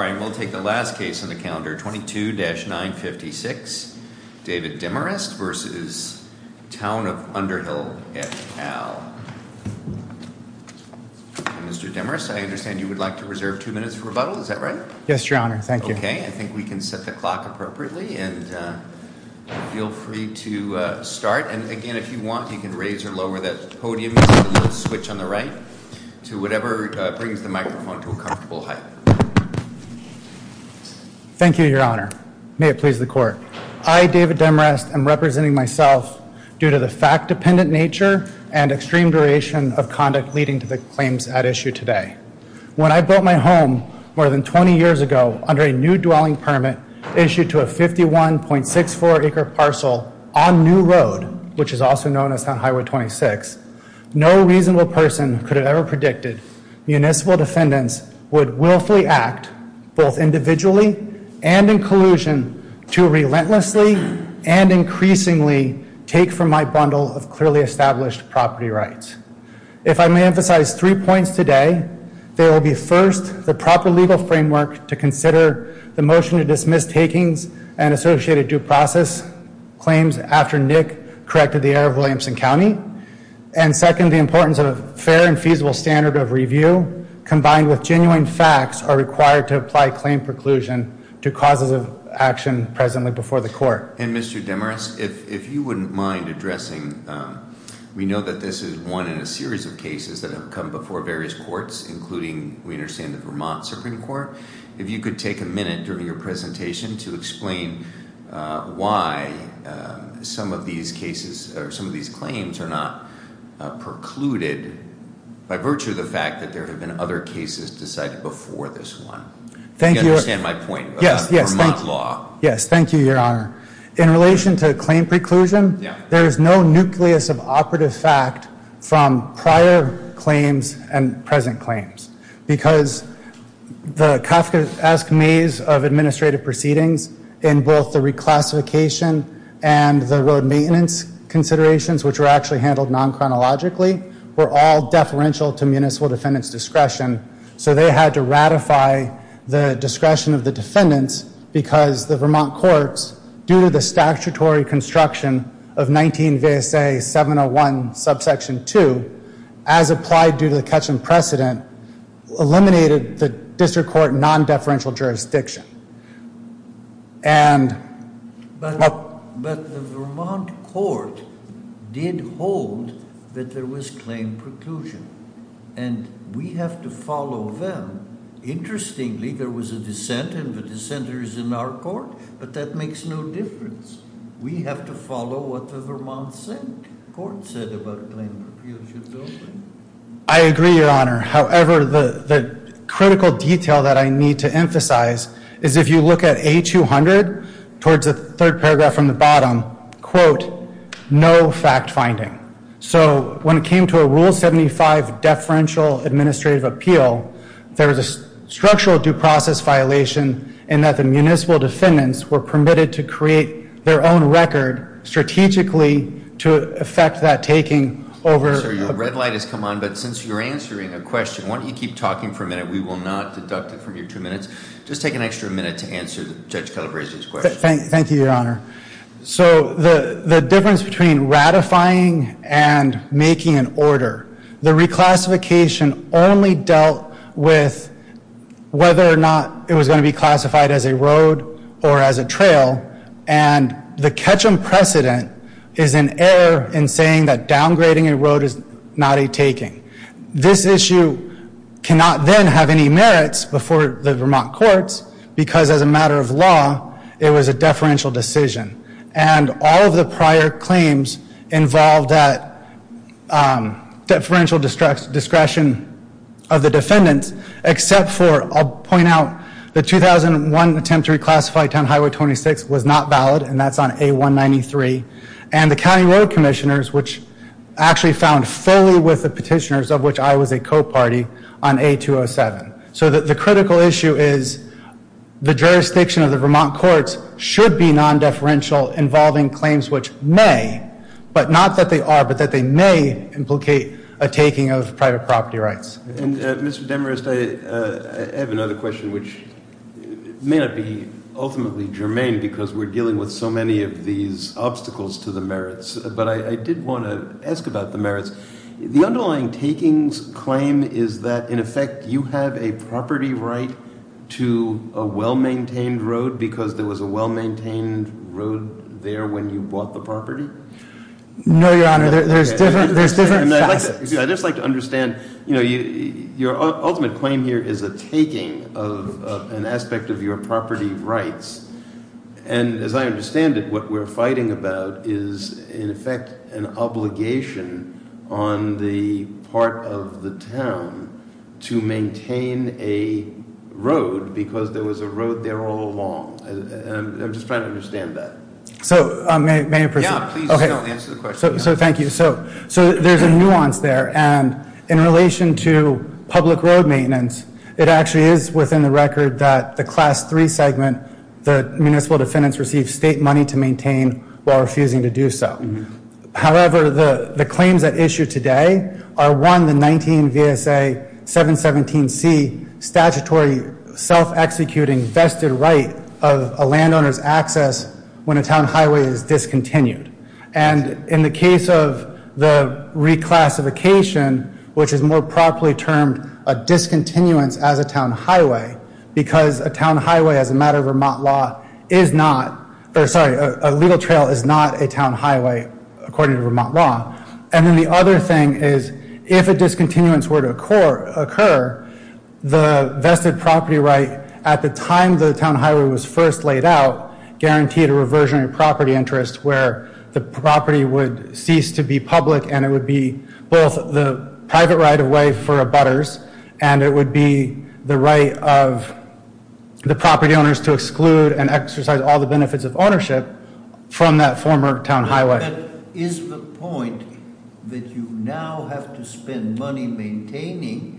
All right, we'll take the last case on the calendar, 22-956, David Demarest v. Town of Underhill et al. Mr. Demarest, I understand you would like to reserve two minutes for rebuttal, is that right? Yes, Your Honor, thank you. Okay, I think we can set the clock appropriately and feel free to start. And again, if you want, you can raise or lower that podium, you see the little switch on the right to whatever brings the microphone to a comfortable height. Thank you, Your Honor. May it please the Court. I, David Demarest, am representing myself due to the fact-dependent nature and extreme duration of conduct leading to the claims at issue today. When I bought my home more than 20 years ago under a new dwelling permit issued to a 51.64-acre parcel on New Road, which is also known as Highway 26, no reasonable person could have ever predicted municipal defendants would willfully act, both individually and in collusion, to relentlessly and increasingly take from my bundle of clearly established property rights. If I may emphasize three points today, they will be, first, the proper legal framework to consider the motion to dismiss takings and associated due process claims after Nick corrected the error of Williamson County, and second, the importance of a fair and feasible standard of review combined with genuine facts are required to apply claim preclusion to causes of action presently before the Court. And Mr. Demarest, if you wouldn't mind addressing, we know that this is one in a series of cases that have come before various courts, including, we understand, the Vermont Supreme Court. If you could take a minute during your presentation to explain why some of these cases or some of these claims are not precluded by virtue of the fact that there have been other cases decided before this one. Thank you. You understand my point. Yes. Yes. Vermont law. Yes. Thank you, Your Honor. Thank you, Your Honor. In relation to claim preclusion, there is no nucleus of operative fact from prior claims and present claims because the Kafkaesque maze of administrative proceedings in both the reclassification and the road maintenance considerations, which were actually handled non-chronologically, were all deferential to municipal defendants' discretion. So they had to ratify the discretion of the defendants because the Vermont courts, due to the statutory construction of 19 VSA 701 subsection 2, as applied due to the Ketchum precedent, eliminated the district court non-deferential jurisdiction. And But the Vermont court did hold that there was claim preclusion. And we have to follow them. Interestingly, there was a dissent and the dissenter is in our court, but that makes no difference. We have to follow what the Vermont court said about claim preclusion. I agree, Your Honor. However, the critical detail that I need to emphasize is if you look at A200 towards the third paragraph from the bottom, quote, no fact finding. So when it came to a Rule 75 deferential administrative appeal, there was a structural due process violation in that the municipal defendants were permitted to create their own record strategically to affect that taking over. Sir, your red light has come on, but since you're answering a question, why don't you keep talking for a minute? We will not deduct it from your two minutes. Just take an extra minute to answer Judge Calabresi's question. Thank you, Your Honor. So the difference between ratifying and making an order. The reclassification only dealt with whether or not it was going to be classified as a road or as a trail. And the catch-em precedent is an error in saying that downgrading a road is not a taking. This issue cannot then have any merits before the Vermont courts because as a matter of And all of the prior claims involved at deferential discretion of the defendants, except for, I'll point out, the 2001 attempt to reclassify 10 Highway 26 was not valid, and that's on A193, and the County Road Commissioners, which actually found fully with the petitioners of which I was a co-party on A207. So the critical issue is the jurisdiction of the Vermont courts should be non-deferential involving claims which may, but not that they are, but that they may implicate a taking of private property rights. Mr. Demarest, I have another question which may not be ultimately germane because we're dealing with so many of these obstacles to the merits, but I did want to ask about the merits. The underlying takings claim is that, in effect, you have a property right to a well-maintained road because there was a well-maintained road there when you bought the property? No, Your Honor, there's different facets. I'd just like to understand, your ultimate claim here is a taking of an aspect of your property rights. And as I understand it, what we're fighting about is, in effect, an obligation on the part of the town to maintain a road because there was a road there all along. I'm just trying to understand that. So may I proceed? Yeah, please go ahead and answer the question. So thank you. So there's a nuance there, and in relation to public road maintenance, it actually is within the record that the Class 3 segment, the municipal defendants receive state money to maintain while refusing to do so. However, the claims at issue today are one, the 19 VSA 717C statutory self-executing vested right of a landowner's access when a town highway is discontinued. And in the case of the reclassification, which is more properly termed a discontinuance as a town highway, because a town highway, as a matter of Vermont law, is not, or sorry, a legal trail is not a town highway according to Vermont law. And then the other thing is, if a discontinuance were to occur, the vested property right at the time the town highway was first laid out guaranteed a reversion in property interest where the property would cease to be public, and it would be both the private right of way for abutters, and it would be the right of the property owners to exclude and exercise all the benefits of ownership from that former town highway. Is the point that you now have to spend money maintaining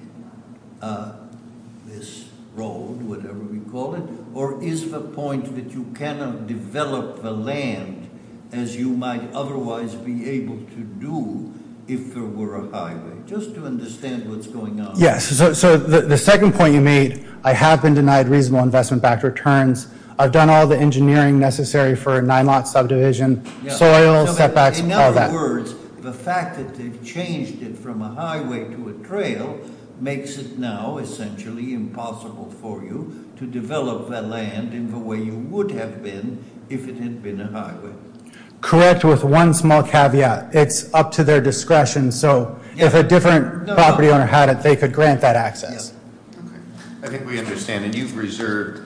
this road, whatever we call it, or is the point that you cannot develop the land as you might otherwise be able to do if there were a highway? Just to understand what's going on. Yes, so the second point you made, I have been denied reasonable investment backed returns. I've done all the engineering necessary for a nine lot subdivision, soil, setbacks, all that. In other words, the fact that they've changed it from a highway to a trail makes it now essentially impossible for you to develop that land in the way you would have been if it had been a highway. Correct with one small caveat. It's up to their discretion. So if a different property owner had it, they could grant that access. I think we understand, and you've reserved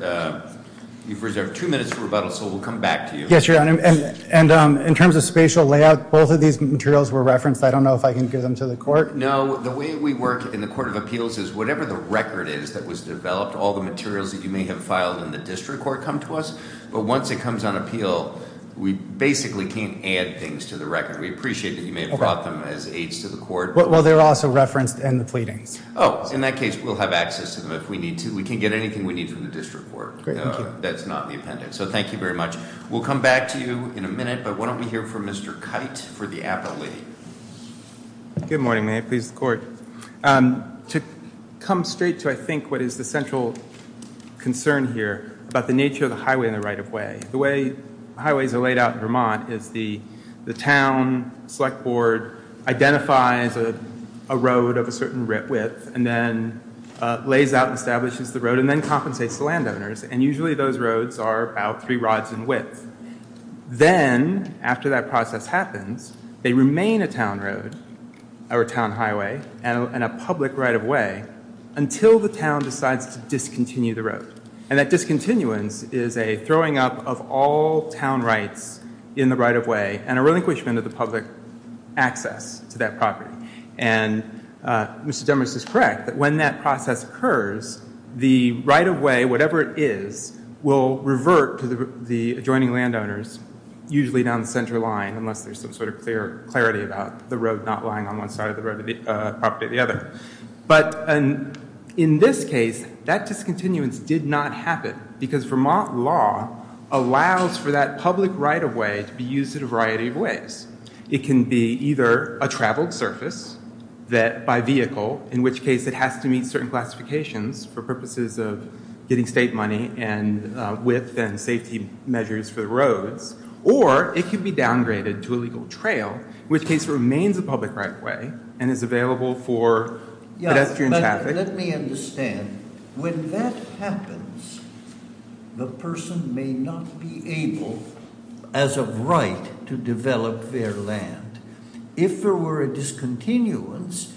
two minutes for rebuttal, so we'll come back to you. Yes, Your Honor, and in terms of spatial layout, both of these materials were referenced. I don't know if I can give them to the court. No, the way we work in the Court of Appeals is whatever the record is that was developed, all the materials that you may have filed in the district court come to us. But once it comes on appeal, we basically can't add things to the record. We appreciate that you may have brought them as aids to the court. Well, they're also referenced in the pleadings. In that case, we'll have access to them if we need to. We can get anything we need from the district court. Great, thank you. That's not the appendix. So thank you very much. We'll come back to you in a minute, but why don't we hear from Mr. Kite for the appellee. Good morning, may it please the court. To come straight to, I think, what is the central concern here about the nature of the highway and the right-of-way. The way highways are laid out in Vermont is the town select board identifies a road of a certain width and then lays out and establishes the road and then compensates the landowners. And usually those roads are about three rods in width. Then, after that process happens, they remain a town road or a town highway and a public right-of-way until the town decides to discontinue the road. And that discontinuance is a throwing up of all town rights in the right-of-way and a relinquishment of the public access to that property. And Mr. Demers is correct that when that process occurs, the right-of-way, whatever it is, will revert to the adjoining landowners, usually down the center line, unless there's some sort of clarity about the road not lying on one side of the property or the other. But in this case, that discontinuance did not happen because Vermont law allows for that public right-of-way to be used in a variety of ways. It can be either a traveled surface by vehicle, in which case it has to meet certain classifications for purposes of getting state money and width and safety measures for the roads. Or it could be downgraded to a legal trail, in which case it remains a public right-of-way and is available for pedestrian traffic. Let me understand. When that happens, the person may not be able, as of right, to develop their land. If there were a discontinuance,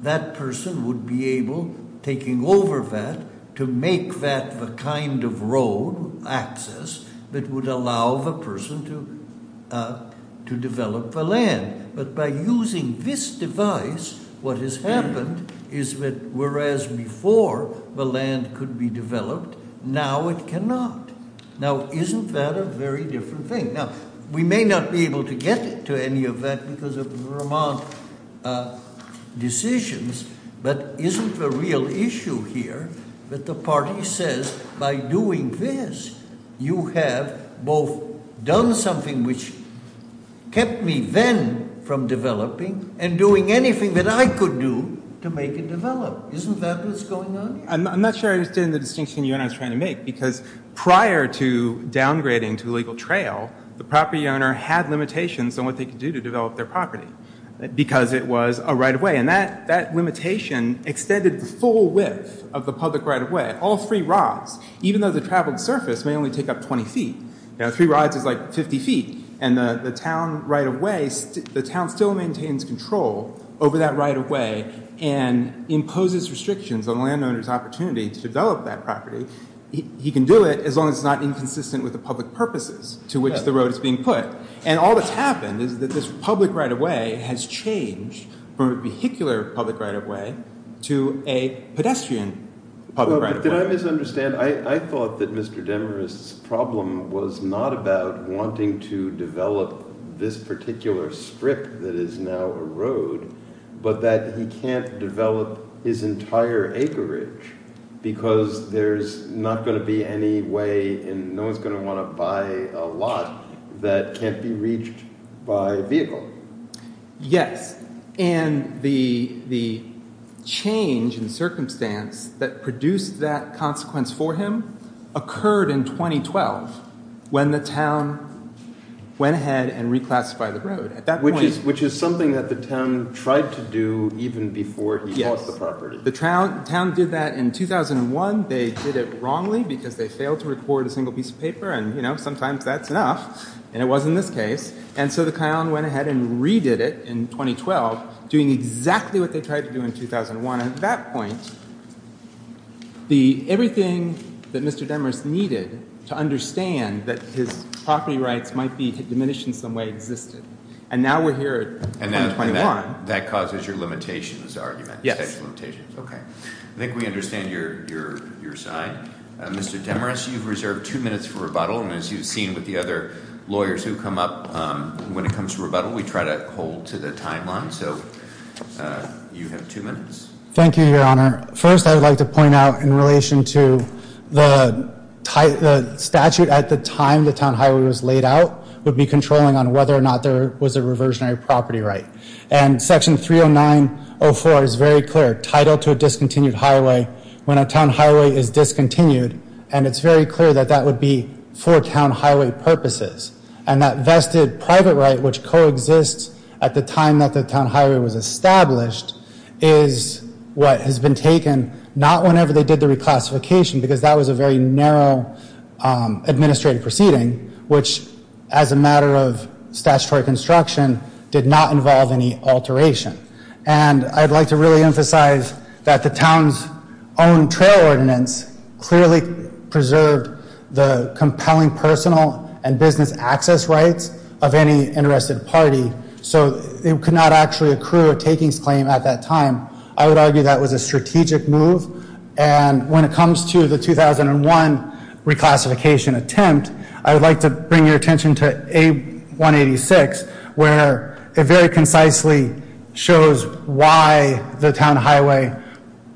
that person would be able, taking over that, to make that the kind of road access that would allow the person to develop the land. But by using this device, what has happened is that whereas before the land could be developed, now it cannot. Now, isn't that a very different thing? Now, we may not be able to get to any of that because of Vermont decisions, but isn't the real issue here that the party says by doing this, you have both done something which kept me then from developing, and doing anything that I could do to make it develop. Isn't that what's going on here? I'm not sure I understand the distinction you and I was trying to make, because prior to downgrading to a legal trail, the property owner had limitations on what they could do to develop their property because it was a right-of-way. And that limitation extended the full width of the public right-of-way, all three roads, even though the traveled surface may only take up 20 feet. Now, three roads is like 50 feet. And the town right-of-way, the town still maintains control over that right-of-way and imposes restrictions on the landowner's opportunity to develop that property. He can do it as long as it's not inconsistent with the public purposes to which the road is being put. And all that's happened is that this public right-of-way has changed from a vehicular public right-of-way to a pedestrian public right-of-way. Did I misunderstand? I thought that Mr. Demarest's problem was not about wanting to develop this particular strip that is now a road, but that he can't develop his entire acreage because there's not going to be any way and no one's going to want to buy a lot that can't be reached by vehicle. Yes. And the change in circumstance that produced that consequence for him occurred in 2012 when the town went ahead and reclassified the road. Which is something that the town tried to do even before he bought the property. The town did that in 2001. They did it wrongly because they failed to record a single piece of paper. And, you know, sometimes that's enough. And it was in this case. And so the town went ahead and redid it in 2012, doing exactly what they tried to do in 2001. At that point, everything that Mr. Demarest needed to understand that his property rights might be diminished in some way existed. And now we're here in 2021. And that causes your limitations argument. Yes. Statute of limitations. Okay. I think we understand your side. Mr. Demarest, you've reserved two minutes for rebuttal. And as you've seen with the other lawyers who come up when it comes to rebuttal, we try to hold to the timeline. So you have two minutes. Thank you, Your Honor. First, I would like to point out in relation to the statute at the time the town highway was laid out would be controlling on whether or not there was a reversionary property right. And section 30904 is very clear. Title to a discontinued highway when a town highway is discontinued. And it's very clear that that would be for town highway purposes. And that vested private right, which coexists at the time that the town highway was established, is what has been taken not whenever they did the reclassification, because that was a very narrow administrative proceeding, which as a matter of statutory construction did not involve any alteration. And I'd like to really emphasize that the town's own trail ordinance clearly preserved the compelling personal and business access rights of any interested party. So it could not actually accrue a takings claim at that time. I would argue that was a strategic move. And when it comes to the 2001 reclassification attempt, I would like to bring your attention to A186, where it very concisely shows why the town highway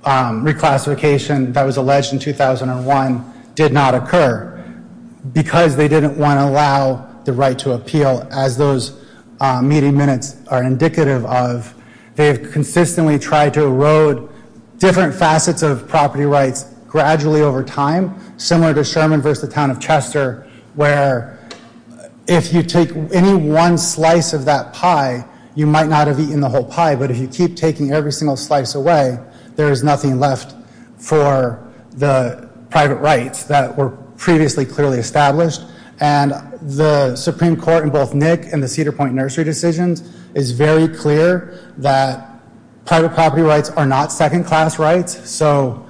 reclassification that was alleged in 2001 did not occur, because they didn't want to allow the right to appeal, as those meeting minutes are indicative of. They have consistently tried to erode different facets of property rights gradually over time, similar to Sherman versus the town of Chester, where if you take any one slice of that pie, you might not have eaten the whole pie. But if you keep taking every single slice away, there is nothing left for the private rights that were previously clearly established. And the Supreme Court in both Nick and the Cedar Point Nursery decisions is very clear that private property rights are not second class rights. So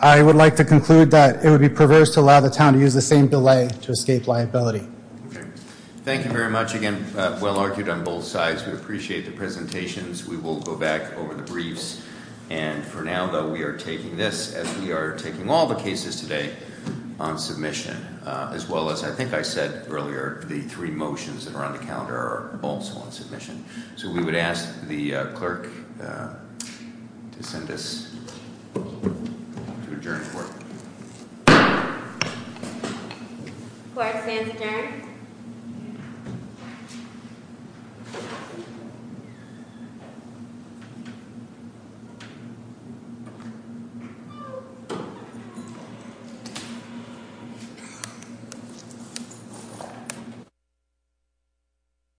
I would like to conclude that it would be perverse to allow the town to use the same delay to escape liability. Okay. Thank you very much. Again, well argued on both sides. We appreciate the presentations. We will go back over the briefs. And for now, though, we are taking this as we are taking all the cases today on submission, as well as, I think I said earlier, the three motions that are on the calendar are also on submission. So we would ask the clerk to send us to adjourn the court. The court is adjourned.